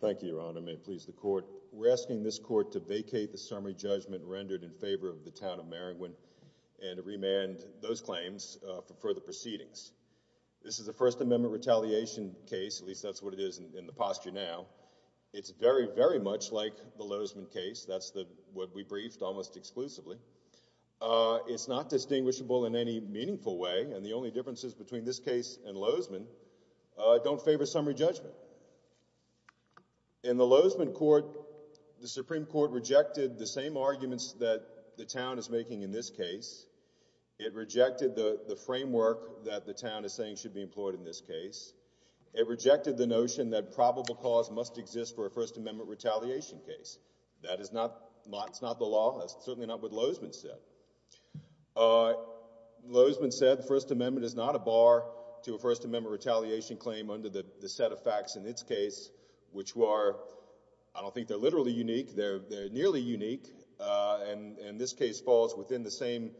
Thank you, Your Honor. May it please the Court. We're asking this Court to vacate the summary judgment rendered in favor of the Town of Maringouin and to remand those claims for further proceedings. This is a First Amendment retaliation case, at least that's what it is in the posture now. It's very, very much like the Lozman case. That's what we briefed almost exclusively. It's not distinguishable in any meaningful way, and the only differences between this case and Lozman don't favor summary judgment. In the Lozman court, the Supreme Court rejected the same arguments that the Town is making in this case. It rejected the framework that the Town is saying should be employed in this case. It rejected the notion that probable cause must exist for a First Amendment retaliation case. That is not the law. That's certainly not what Lozman said. Lozman said the First Amendment is not a bar to a First Amendment retaliation claim under the set of facts in its case, which are, I don't think they're literally unique, they're nearly unique, and this case falls within the same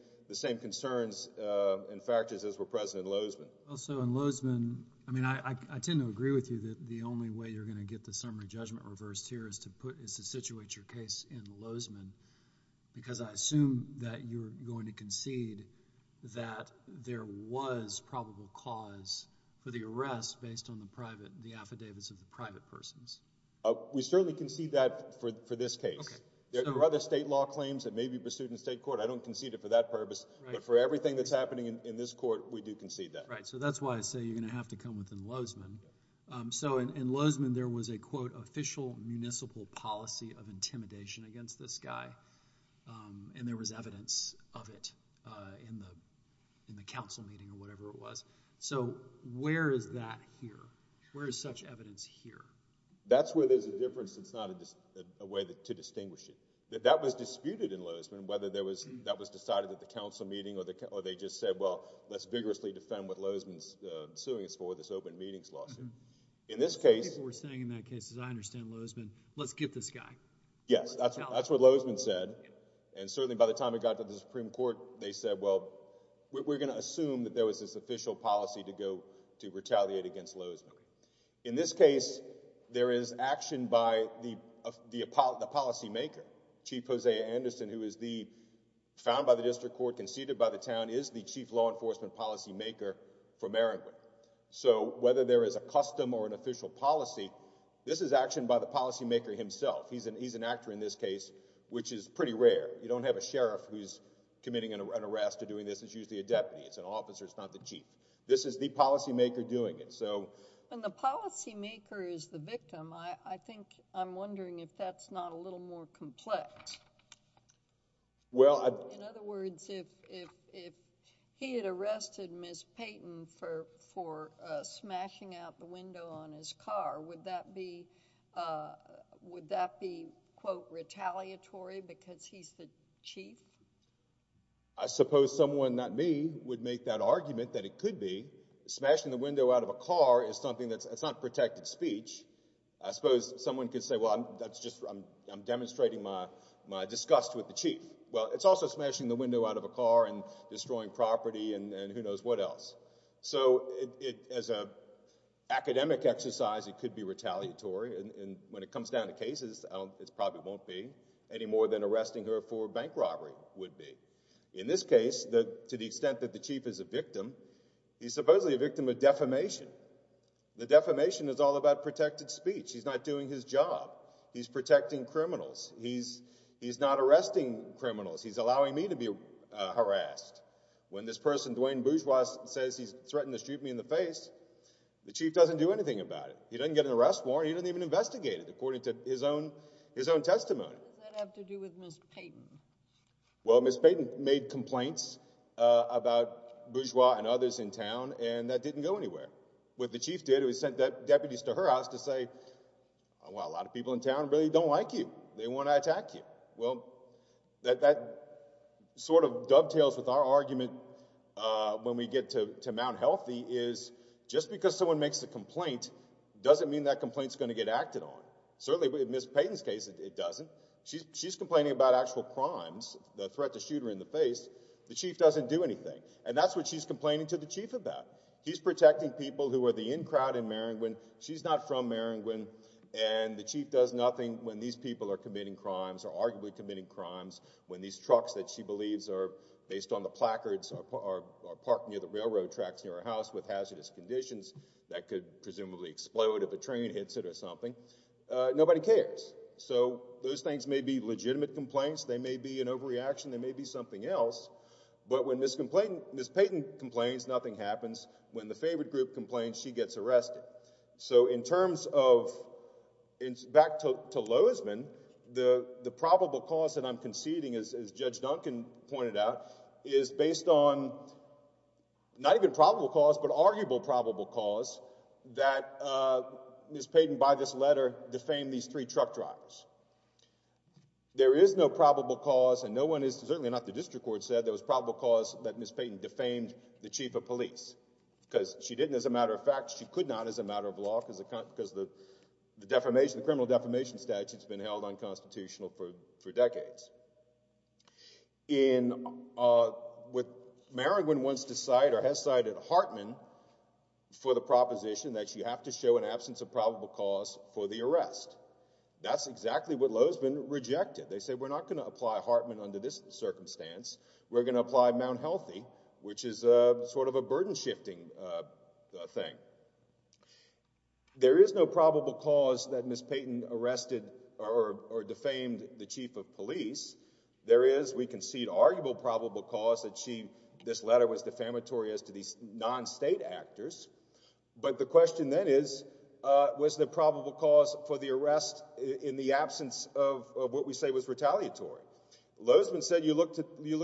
concerns and factors as were present in Lozman. Also, in Lozman, I mean, I tend to agree with you that the only way you're going to get the summary judgment reversed here is to situate your case in Lozman, because I assume that you're going to concede that there was probable cause for the arrest based on the private, the affidavits of the private persons. We certainly concede that for this case. There are other state law claims that may be pursued in state court. I don't concede it for that purpose, but for everything that's happening in this court, we do concede that. Right, so that's why I say you're going to have to come within Lozman. So in Lozman, there was a, quote, official municipal policy of intimidation against this guy, and there was evidence of it in the, in the council meeting or whatever it was. So where is that here? Where is such evidence here? That's where there's a difference. It's not a way to distinguish it. That was disputed in Lozman, whether that was decided at the council meeting or they just said, well, let's vigorously defend what Lozman's suing us for, this open meetings lawsuit. In this case... People were saying in that case, I understand Lozman, let's get this guy. Yes, that's what Lozman said. And certainly by the time it got to the Supreme Court, they said, well, we're going to assume that there was this official policy to go, to retaliate against Lozman. In this case, there is action by the policymaker, Chief Hosea Anderson, who is the, found by the district court, conceded by the town, is the chief law enforcement policymaker for Merriman. So whether there is a custom or an official policy, this is action by the policymaker himself. He's an actor in this case, which is pretty rare. You don't have a sheriff who's committing an arrest or doing this. It's usually a deputy. It's an officer. It's not the chief. This is the policymaker doing it. So... When the policymaker is the victim, I think, I'm wondering if that's not a little more complex. Well, I... In other words, if he had arrested Ms. Payton for smashing out the window on his car, would that be, would that be, quote, retaliatory because he's the chief? I suppose someone, not me, would make that argument that it could be. Smashing the window out of a car is something that's, it's not protected speech. I suppose someone could say, well, I'm, that's just, I'm, I'm demonstrating my, my disgust with the chief. Well, it's also smashing the window out of a car and destroying property and, and who knows what else. So it, it, as a academic exercise, it could be retaliatory and, and when it comes down to cases, I don't, it probably won't be any more than arresting her for bank robbery would be. In this case, the, to the extent that the chief is a victim, he's supposedly a victim of defamation. The defamation is all about protected speech. He's not doing his job. He's protecting criminals. He's, he's not arresting criminals. He's allowing me to be harassed. When this person, Duane Bourgeois, says he's threatened to shoot me in the face, the chief doesn't do anything about it. He doesn't get an arrest warrant. He doesn't even investigate it according to his own, his own testimony. What does that have to do with Ms. Payton? Well, Ms. Payton made complaints about Bourgeois and others in town and that didn't go anywhere. What the chief did, he sent deputies to her house to say, well, a lot of people in town really don't like you. They want to attack you. Well, that, that sort of dovetails with our argument when we get to, to Mount Healthy is just because someone makes a complaint doesn't mean that complaint is going to get acted on. Certainly, in Ms. Payton's case, it doesn't. She's complaining about actual crimes, the threat to shoot her in the face. The chief doesn't do anything and that's what she's complaining to the chief about. He's protecting people who are the in crowd in Maringouin. She's not from Maringouin and the chief does nothing when these people are committing crimes or arguably committing crimes. When these trucks that she believes are based on the placards are parked near the railroad tracks near her house with hazardous conditions that could presumably explode if a train hits it or something. Nobody cares. So, those things may be legitimate complaints. They may be an overreaction. They may be something else. But when Ms. Payton complains, nothing happens. When the favored group complains, she gets arrested. So, in terms of, back to Loisman, the probable cause that I'm conceding, as Judge Duncan pointed out, is based on not even probable cause but arguable probable cause that Ms. Payton by this letter defamed these three truck drivers. There is no probable cause and no one is, certainly not the district court, said there was probable cause that Ms. Payton defamed the chief of police because she didn't. As a matter of fact, she could not as a matter of law because the criminal defamation statute has been held unconstitutional for decades. What Merrigan wants to cite or has cited Hartman for the proposition that you have to show an absence of probable cause for the arrest. That's exactly what Loisman rejected. They said we're not going to apply Hartman under this circumstance. We're going to apply Mount Healthy, which is sort of a burden shifting thing. There is no probable cause that Ms. Payton arrested or defamed the chief of police. There is, we concede, arguable probable cause that she, this letter was defamatory as to these non-state actors. But the question then is, was there probable cause for the arrest in the absence of what we say was retaliatory? Loisman said you look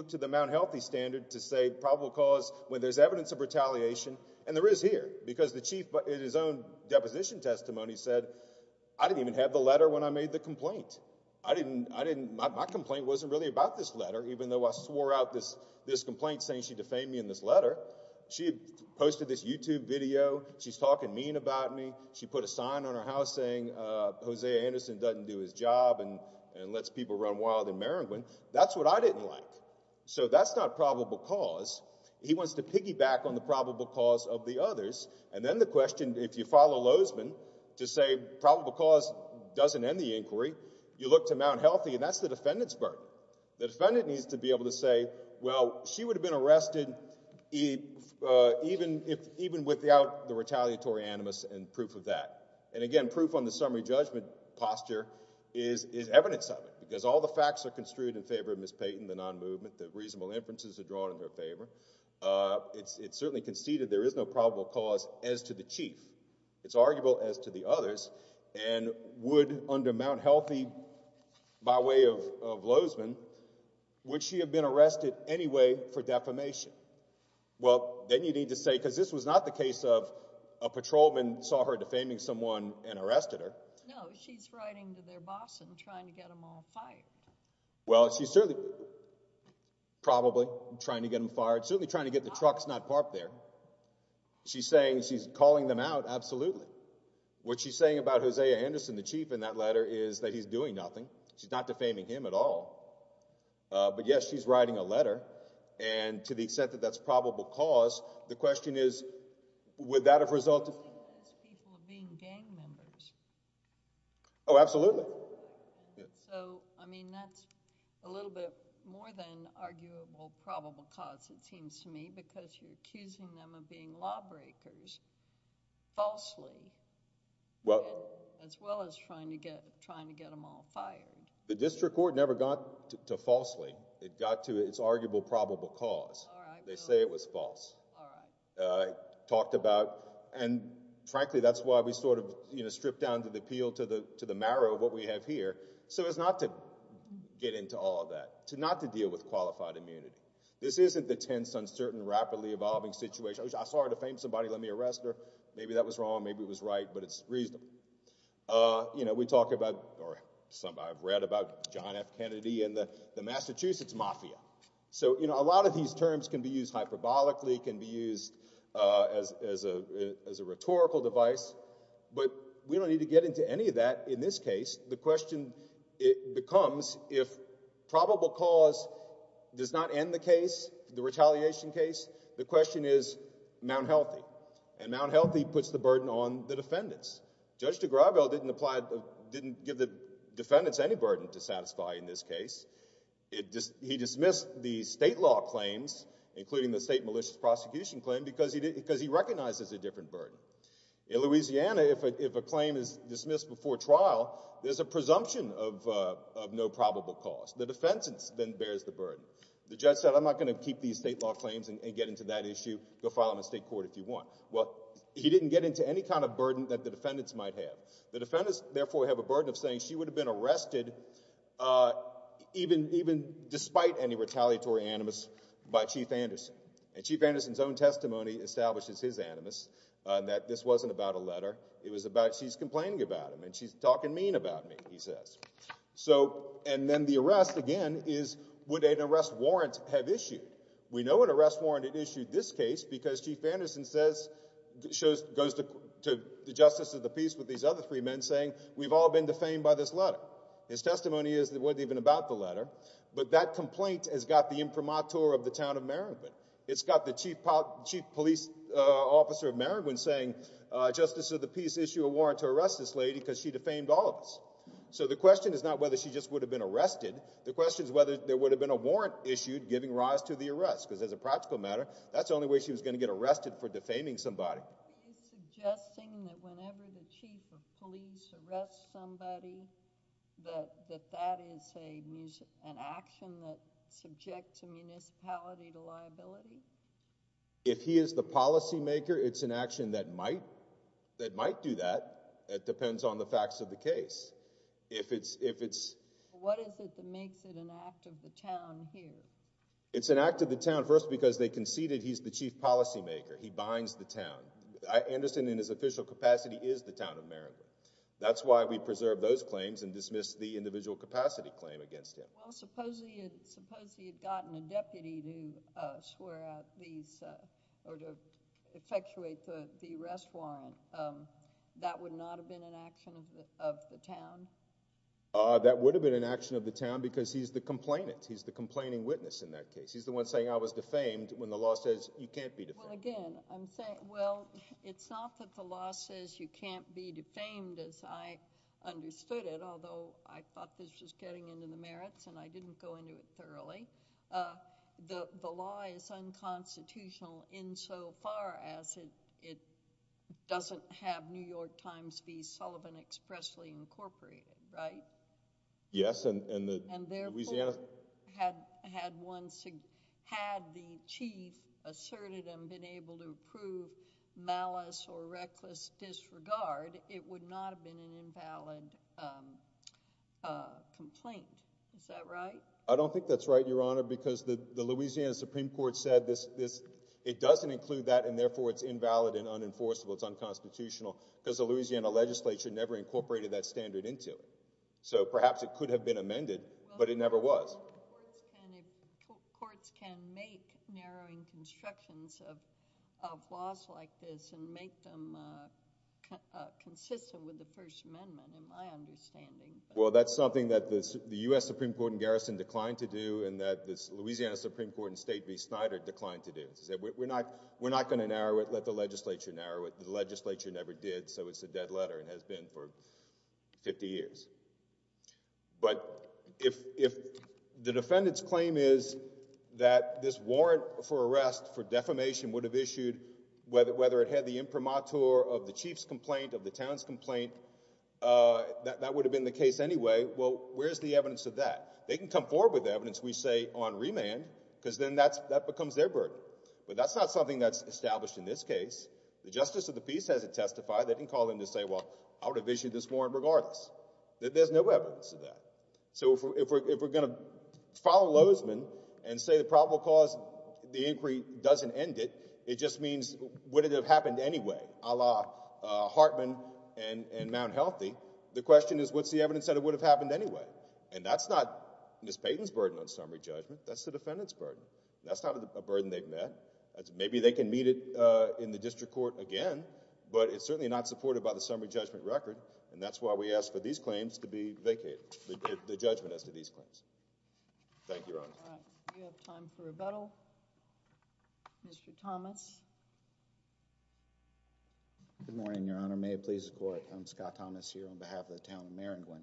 to the Mount Healthy standard to say probable cause when there's evidence of retaliation and there is here because the chief in his own deposition testimony said I didn't even have the letter when I made the complaint. I didn't, my complaint wasn't really about this letter even though I swore out this complaint saying she defamed me in this letter. She posted this YouTube video. She's talking mean about me. She put a sign on her house saying Hosea Anderson doesn't do his job and lets people run wild in Merrigan. That's what I didn't like. So that's not probable cause. He wants to piggyback on the probable cause of the others. And then the question, if you follow Loisman to say probable cause doesn't end the inquiry, you look to Mount Healthy and that's the defendant's burden. The defendant needs to be able to say, well, she would have been arrested even without the retaliatory animus and proof of that. And again, proof on the summary judgment posture is evidence of it because all the facts are construed in favor of Ms. Payton, the non-movement, the reasonable inferences are drawn in her favor. It's certainly conceded there is no probable cause as to the chief. It's arguable as to the others and would under Mount Healthy, by way of Loisman, would she have been arrested anyway for defamation? Well, then you need to say, because this was not the case of a patrolman saw her defaming someone and arrested her. No, she's writing to their boss and trying to get them all fired. Well, she's certainly probably trying to get them fired, certainly trying to get the trucks not parked there. She's saying she's calling them out. Absolutely. What she's saying about Hosea Anderson, the chief in that letter, is that he's doing nothing. She's not defaming him at all. But yes, she's writing a letter. And to the extent that that's probable cause, the question is, would that have resulted in people being gang members? Oh, absolutely. So, I mean, that's a little bit more than arguable probable cause, it seems to me, because you're accusing them of being lawbreakers, falsely, as well as trying to get them all fired. The district court never got to falsely. It got to its arguable probable cause. They say it was false. And frankly, that's why we stripped down to the peel, to the marrow of what we have here. So as not to get into all of that, to not to deal with qualified immunity. This isn't the tense, uncertain, rapidly evolving situation. I saw her defame somebody, let me arrest her. Maybe that was wrong. Maybe it was right. But it's reasonable. You know, we talk about, or I've read about John F. Kennedy and the Massachusetts mafia. So, you know, a lot of these terms can be used hyperbolically, can be used as a rhetorical device, but we don't need to get into any of that in this case. The question becomes, if probable cause does not end the case, the retaliation case, the question is Mount Healthy. And Mount Healthy puts the burden on the defendants. Judge DiGrago didn't give the defendants any burden to satisfy in this case. He dismissed the state law claims, including the state malicious prosecution claim, because he recognizes a different burden. In Louisiana, if a claim is dismissed before trial, there's a presumption of no probable cause. The defense then bears the burden. The judge said, I'm not going to keep these state law claims and get into that issue. Go file them in state court if you want. Well, he didn't get into any kind of burden that the defendants might have. The defendants, therefore, have a burden of saying she would have been arrested even despite any retaliatory animus by Chief Anderson. And Chief Anderson's own testimony establishes his animus, that this wasn't about a letter. It was about she's complaining about him and she's talking mean about me, he says. And then the arrest, again, is would an arrest warrant have issued? We know an arrest warrant had issued this case because Chief Anderson goes to the justice of the peace with these other three men saying, we've all been defamed by this letter. His testimony is that it wasn't even about the letter. But that complaint has got the imprimatur of the town of Merrigan. It's got the chief police officer of Merrigan saying, justice of the peace, issue a warrant to arrest this lady because she defamed all of us. So the question is not whether she just would have been arrested. The question is whether there would have been a warrant issued giving rise to the arrest. Because as a practical matter, that's the only way she was going to get arrested for defaming somebody. So are you suggesting that whenever the chief of police arrests somebody, that that is an action that subjects a municipality to liability? If he is the policymaker, it's an action that might do that. That depends on the facts of the case. If it's... What is it that makes it an act of the town here? It's an act of the town first because they conceded he's the chief policymaker. He binds the town. Anderson, in his official capacity, is the town of Merrigan. That's why we preserve those claims and dismiss the individual capacity claim against him. Well, supposing he had gotten a deputy to swear out these, or to effectuate the arrest warrant, that would not have been an action of the town? That would have been an action of the town because he's the complainant. He's the complaining witness in that case. He's the one saying I was defamed when the law says you can't be defamed. Well, again, I'm saying, well, it's not that the law says you can't be defamed as I understood it, although I thought this was getting into the merits and I didn't go into it thoroughly. The law is unconstitutional insofar as it doesn't have New York Times v. Sullivan expressly incorporated, right? Yes. And therefore, had the chief asserted and been able to prove malice or reckless disregard, it would not have been an invalid complaint. Is that right? I don't think that's right, Your Honor, because the Louisiana Supreme Court said it doesn't include that and therefore it's invalid and unenforceable. It's unconstitutional because the Louisiana legislature never incorporated that standard into it. So perhaps it could have been amended, but it never was. Courts can make narrowing constructions of laws like this and make them consistent with the First Amendment, in my understanding. Well, that's something that the U.S. Supreme Court in Garrison declined to do and that the Louisiana Supreme Court in State v. Snyder declined to do, is that we're not going to narrow it, let the legislature narrow it. The legislature never did, so it's a dead letter and has been for 50 years. But if the defendant's claim is that this warrant for arrest for defamation would have issued, whether it had the imprimatur of the chief's complaint, of the town's complaint, that would have been the case anyway, well, where's the evidence of that? They can come forward with evidence, we say, on remand, because then that becomes their burden. But that's not something that's established in this case. The Justice of the Peace hasn't testified, they didn't call in to say, well, I would have issued this warrant regardless, that there's no evidence of that. So if we're going to follow Lozeman and say the probable cause of the inquiry doesn't end it, it just means, would it have happened anyway, a la Hartman and Mount Healthy? The question is, what's the evidence that it would have happened anyway? And that's not Ms. Payton's burden on summary judgment, that's the defendant's burden. That's not a burden they've met. Maybe they can meet it in the district court again, but it's certainly not supported by the summary judgment record, and that's why we ask for these claims to be vacated, the judgment as to these claims. Thank you, Your Honor. All right. We have time for rebuttal. Mr. Thomas. Good morning, Your Honor. May it please the Court. I'm Scott Thomas here on behalf of the town of Maringwin.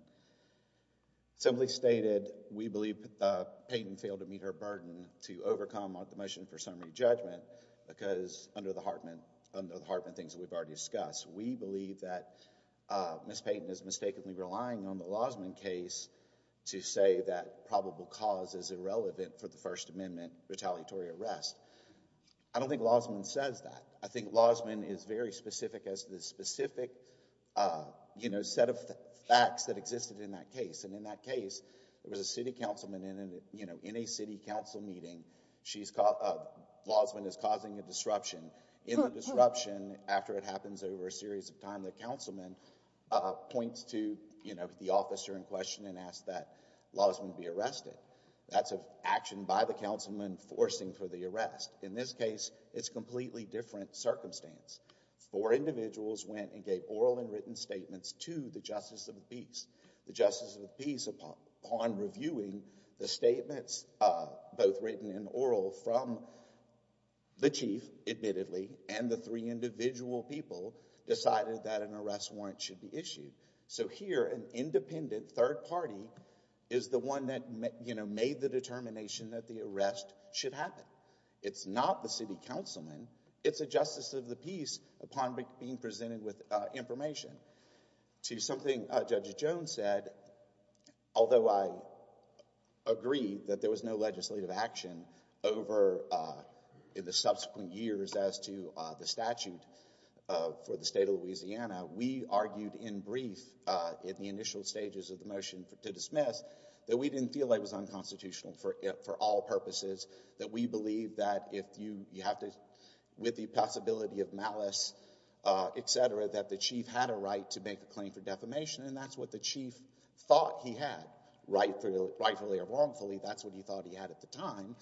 Simply stated, we believe Payton failed to meet her burden to overcome the motion for summary judgment because, under the Hartman things that we've already discussed, we believe that Ms. Payton is mistakenly relying on the Lozeman case to say that probable cause is irrelevant for the First Amendment retaliatory arrest. I don't think Lozeman says that. I think Lozeman is very specific as to the specific, you know, set of facts that existed in that case. And in that case, there was a city councilman in a, you know, in a city council meeting, she's... Lozeman is causing a disruption. In the disruption, after it happens over a series of time, the councilman points to, you know, the officer in question and asks that Lozeman be arrested. That's an action by the councilman forcing for the arrest. In this case, it's a completely different circumstance. Four individuals went and gave oral and written statements to the Justice of the Peace. Upon reviewing the statements, both written and oral, from the chief, admittedly, and the three individual people decided that an arrest warrant should be issued. So here, an independent third party is the one that, you know, made the determination that the arrest should happen. It's not the city councilman. It's a Justice of the Peace upon being presented with information. To something Judge Jones said, although I agree that there was no legislative action over the subsequent years as to the statute for the state of Louisiana, we argued in brief in the initial stages of the motion to dismiss that we didn't feel like it was unconstitutional for all purposes, that we believe that if you have to, with the possibility of malice, et cetera, that the chief had a right to make a claim for defamation, and that's what the chief thought he had, rightfully or wrongfully, that's what he thought he had at the time.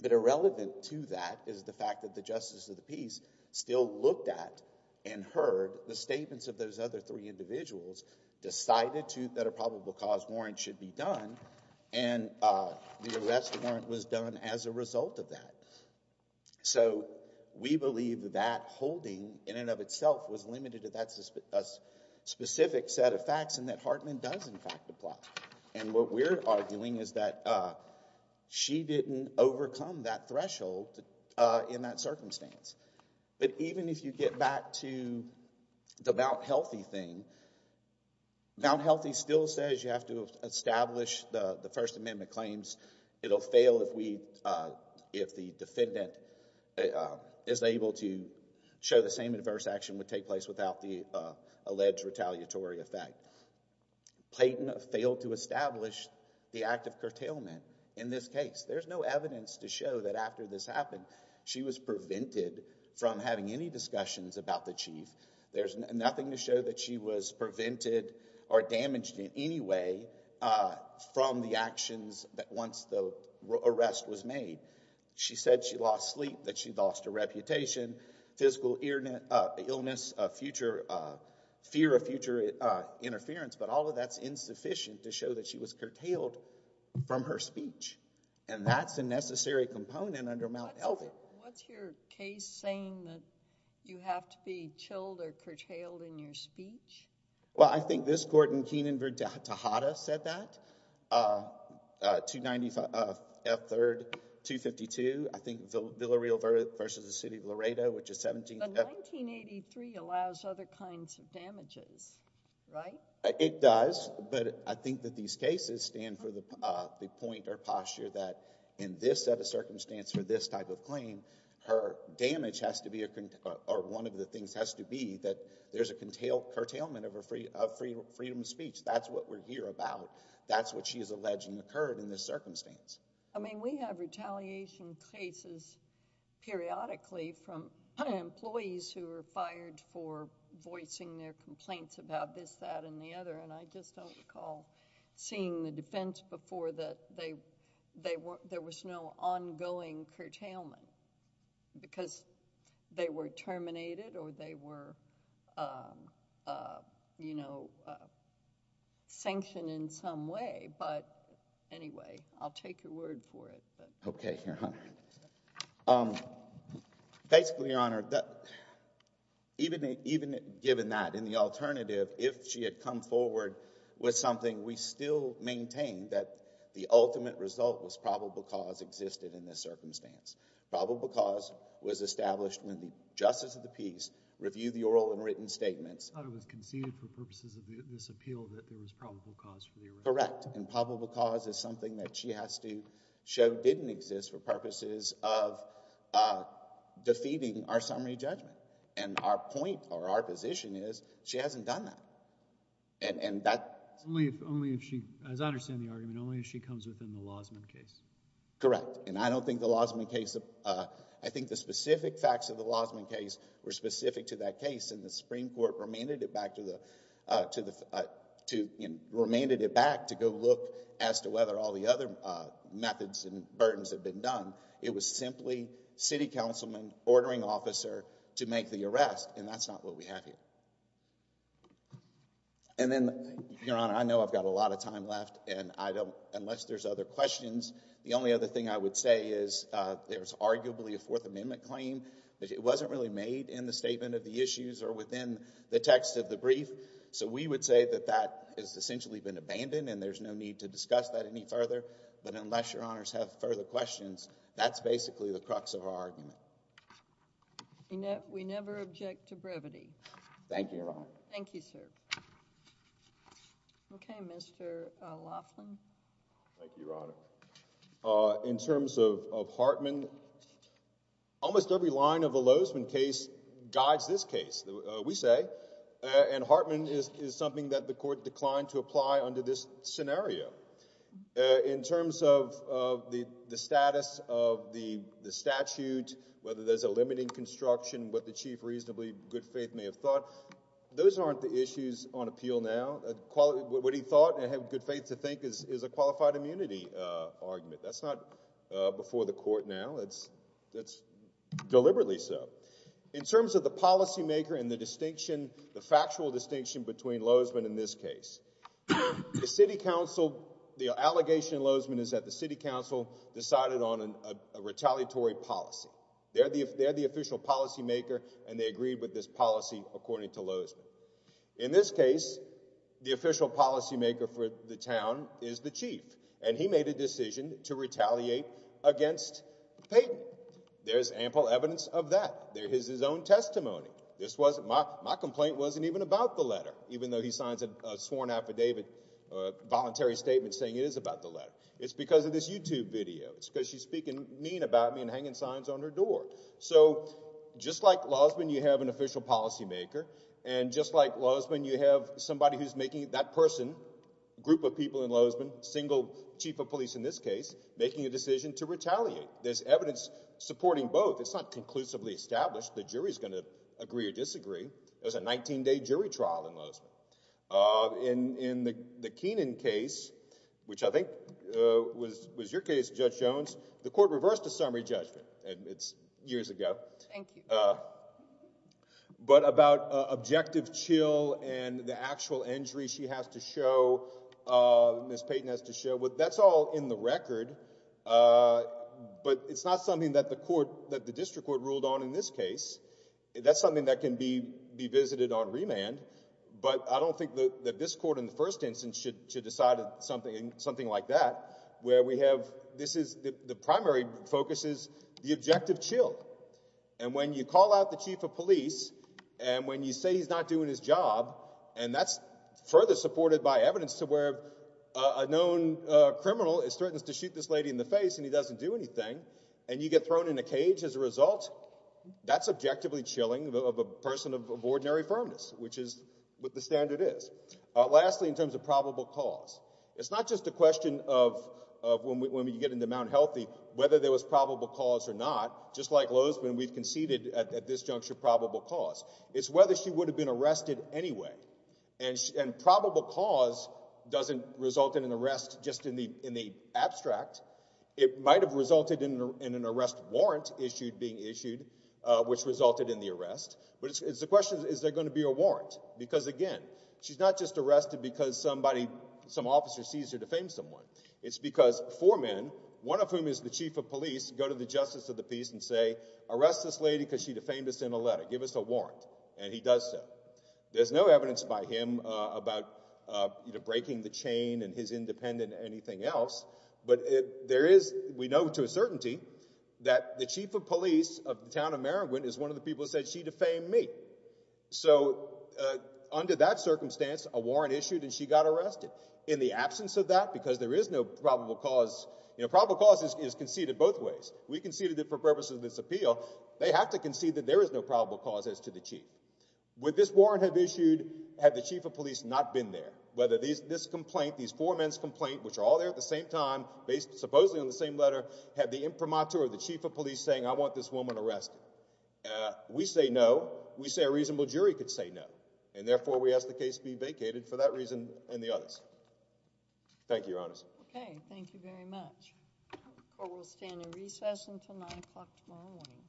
But irrelevant to that is the fact that the Justice of the Peace still looked at and heard the statements of those other three individuals, decided to, that a probable cause warrant should be done, and the arrest warrant was done as a result of that. So, we believe that that holding, in and of itself, was limited to that specific set of facts, and that Hartman does, in fact, apply. And what we're arguing is that she didn't overcome that threshold in that circumstance. But even if you get back to the Mount Healthy thing, Mount Healthy still says you have to show that the defendant is able to show the same adverse action would take place without the alleged retaliatory effect. Clayton failed to establish the act of curtailment in this case. There's no evidence to show that after this happened, she was prevented from having any discussions about the chief. There's nothing to show that she was prevented or damaged in any way from the actions that once the arrest was made. She said she lost sleep, that she lost her reputation, physical illness, fear of future interference, but all of that's insufficient to show that she was curtailed from her speech. And that's a necessary component under Mount Healthy. What's your case saying that you have to be chilled or curtailed in your speech? Well, I think this court in Keenan v. Tejada said that, 295 F. 3rd, 252, I think Villareal v. the City of Laredo, which is 17th F. But 1983 allows other kinds of damages, right? It does, but I think that these cases stand for the point or posture that in this set of circumstance for this type of claim, her damage has to be, or one of the things has to be, that there's a curtailment of freedom of speech. That's what we're here about. That's what she's alleging occurred in this circumstance. I mean, we have retaliation cases periodically from employees who are fired for voicing their complaints about this, that, and the other. And I just don't recall seeing the defense before that there was no ongoing curtailment because they were terminated or they were, you know, sanctioned in some way. But anyway, I'll take your word for it. OK, Your Honor. Basically, Your Honor, even given that, in the alternative, if she had come forward with something, we still maintain that the ultimate result was probable cause existed in this case. Probable cause was established when the justice of the peace reviewed the oral and written statements. I thought it was conceded for purposes of this appeal that there was probable cause for the arrest. Correct. And probable cause is something that she has to show didn't exist for purposes of defeating our summary judgment. And our point or our position is she hasn't done that. And that's only if she, as I understand the argument, only if she comes within the Lausman case. Correct. And I don't think the Lausman case, I think the specific facts of the Lausman case were specific to that case and the Supreme Court remanded it back to the, remanded it back to go look as to whether all the other methods and burdens had been done. It was simply city councilman ordering officer to make the arrest and that's not what we have here. And then, Your Honor, I know I've got a lot of time left and I don't, unless there's other questions, the only other thing I would say is there's arguably a Fourth Amendment claim. It wasn't really made in the statement of the issues or within the text of the brief. So we would say that that has essentially been abandoned and there's no need to discuss that any further. But unless Your Honors have further questions, that's basically the crux of our argument. We never object to brevity. Thank you, Your Honor. Okay. Mr. Laughlin. Thank you, Your Honor. In terms of Hartman, almost every line of the Lozman case guides this case, we say, and Hartman is something that the court declined to apply under this scenario. In terms of the status of the statute, whether there's a limiting construction, what the chief reasonably good faith may have thought, those aren't the issues on appeal now. What he thought and I have good faith to think is a qualified immunity argument. That's not before the court now, it's deliberately so. In terms of the policymaker and the distinction, the factual distinction between Lozman and this case, the city council, the allegation in Lozman is that the city council decided on a retaliatory policy. They're the official policymaker and they agreed with this policy according to Lozman. In this case, the official policymaker for the town is the chief and he made a decision to retaliate against Payton. There's ample evidence of that. There is his own testimony. This wasn't, my complaint wasn't even about the letter, even though he signs a sworn affidavit, a voluntary statement saying it is about the letter. It's because of this YouTube video. It's because she's speaking mean about me and hanging signs on her door. So just like Lozman, you have an official policymaker and just like Lozman, you have somebody who's making, that person, group of people in Lozman, single chief of police in this case, making a decision to retaliate. There's evidence supporting both. It's not conclusively established the jury's going to agree or disagree. It was a 19-day jury trial in Lozman. In the Keenan case, which I think was your case, Judge Jones, the court reversed a summary judgment. It's years ago. But about objective chill and the actual injury she has to show, Ms. Payton has to show, that's all in the record, but it's not something that the court, that the district court ruled on in this case. That's something that can be visited on remand, but I don't think that this court in the first instance should decide something like that, where we have, this is, the primary focus is the objective chill. And when you call out the chief of police, and when you say he's not doing his job, and that's further supported by evidence to where a known criminal is threatened to shoot this lady in the face and he doesn't do anything, and you get thrown in a cage as a result, that's objectively chilling of a person of ordinary firmness, which is what the standard is. Lastly, in terms of probable cause, it's not just a question of, when we get into Mount Healthy, whether there was probable cause or not. Just like Lozman, we've conceded at this juncture probable cause. It's whether she would have been arrested anyway, and probable cause doesn't result in an arrest just in the abstract. It might have resulted in an arrest warrant issued, being issued, which resulted in the arrest. But the question is, is there going to be a warrant? Because again, she's not just arrested because somebody, some officer sees her defame someone. It's because four men, one of whom is the chief of police, go to the justice of the peace and say, arrest this lady because she defamed us in a letter. Give us a warrant. And he does so. There's no evidence by him about breaking the chain and his independent anything else, but there is, we know to a certainty, that the chief of police of the town of Merrigan is one of the people who said, she defamed me. So under that circumstance, a warrant issued and she got arrested. In the absence of that, because there is no probable cause, you know, probable cause is conceded both ways. We conceded it for purposes of this appeal. They have to concede that there is no probable cause as to the chief. Would this warrant have issued had the chief of police not been there? Whether this complaint, these four men's complaint, which are all there at the same time, based supposedly on the same letter, had the imprimatur of the chief of police saying, I want this We say no. We say a reasonable jury could say no. And therefore, we ask the case be vacated for that reason and the others. Thank you, Your Honor. Okay. Thank you very much. Court will stand in recess until 9 o'clock tomorrow morning. Thank you.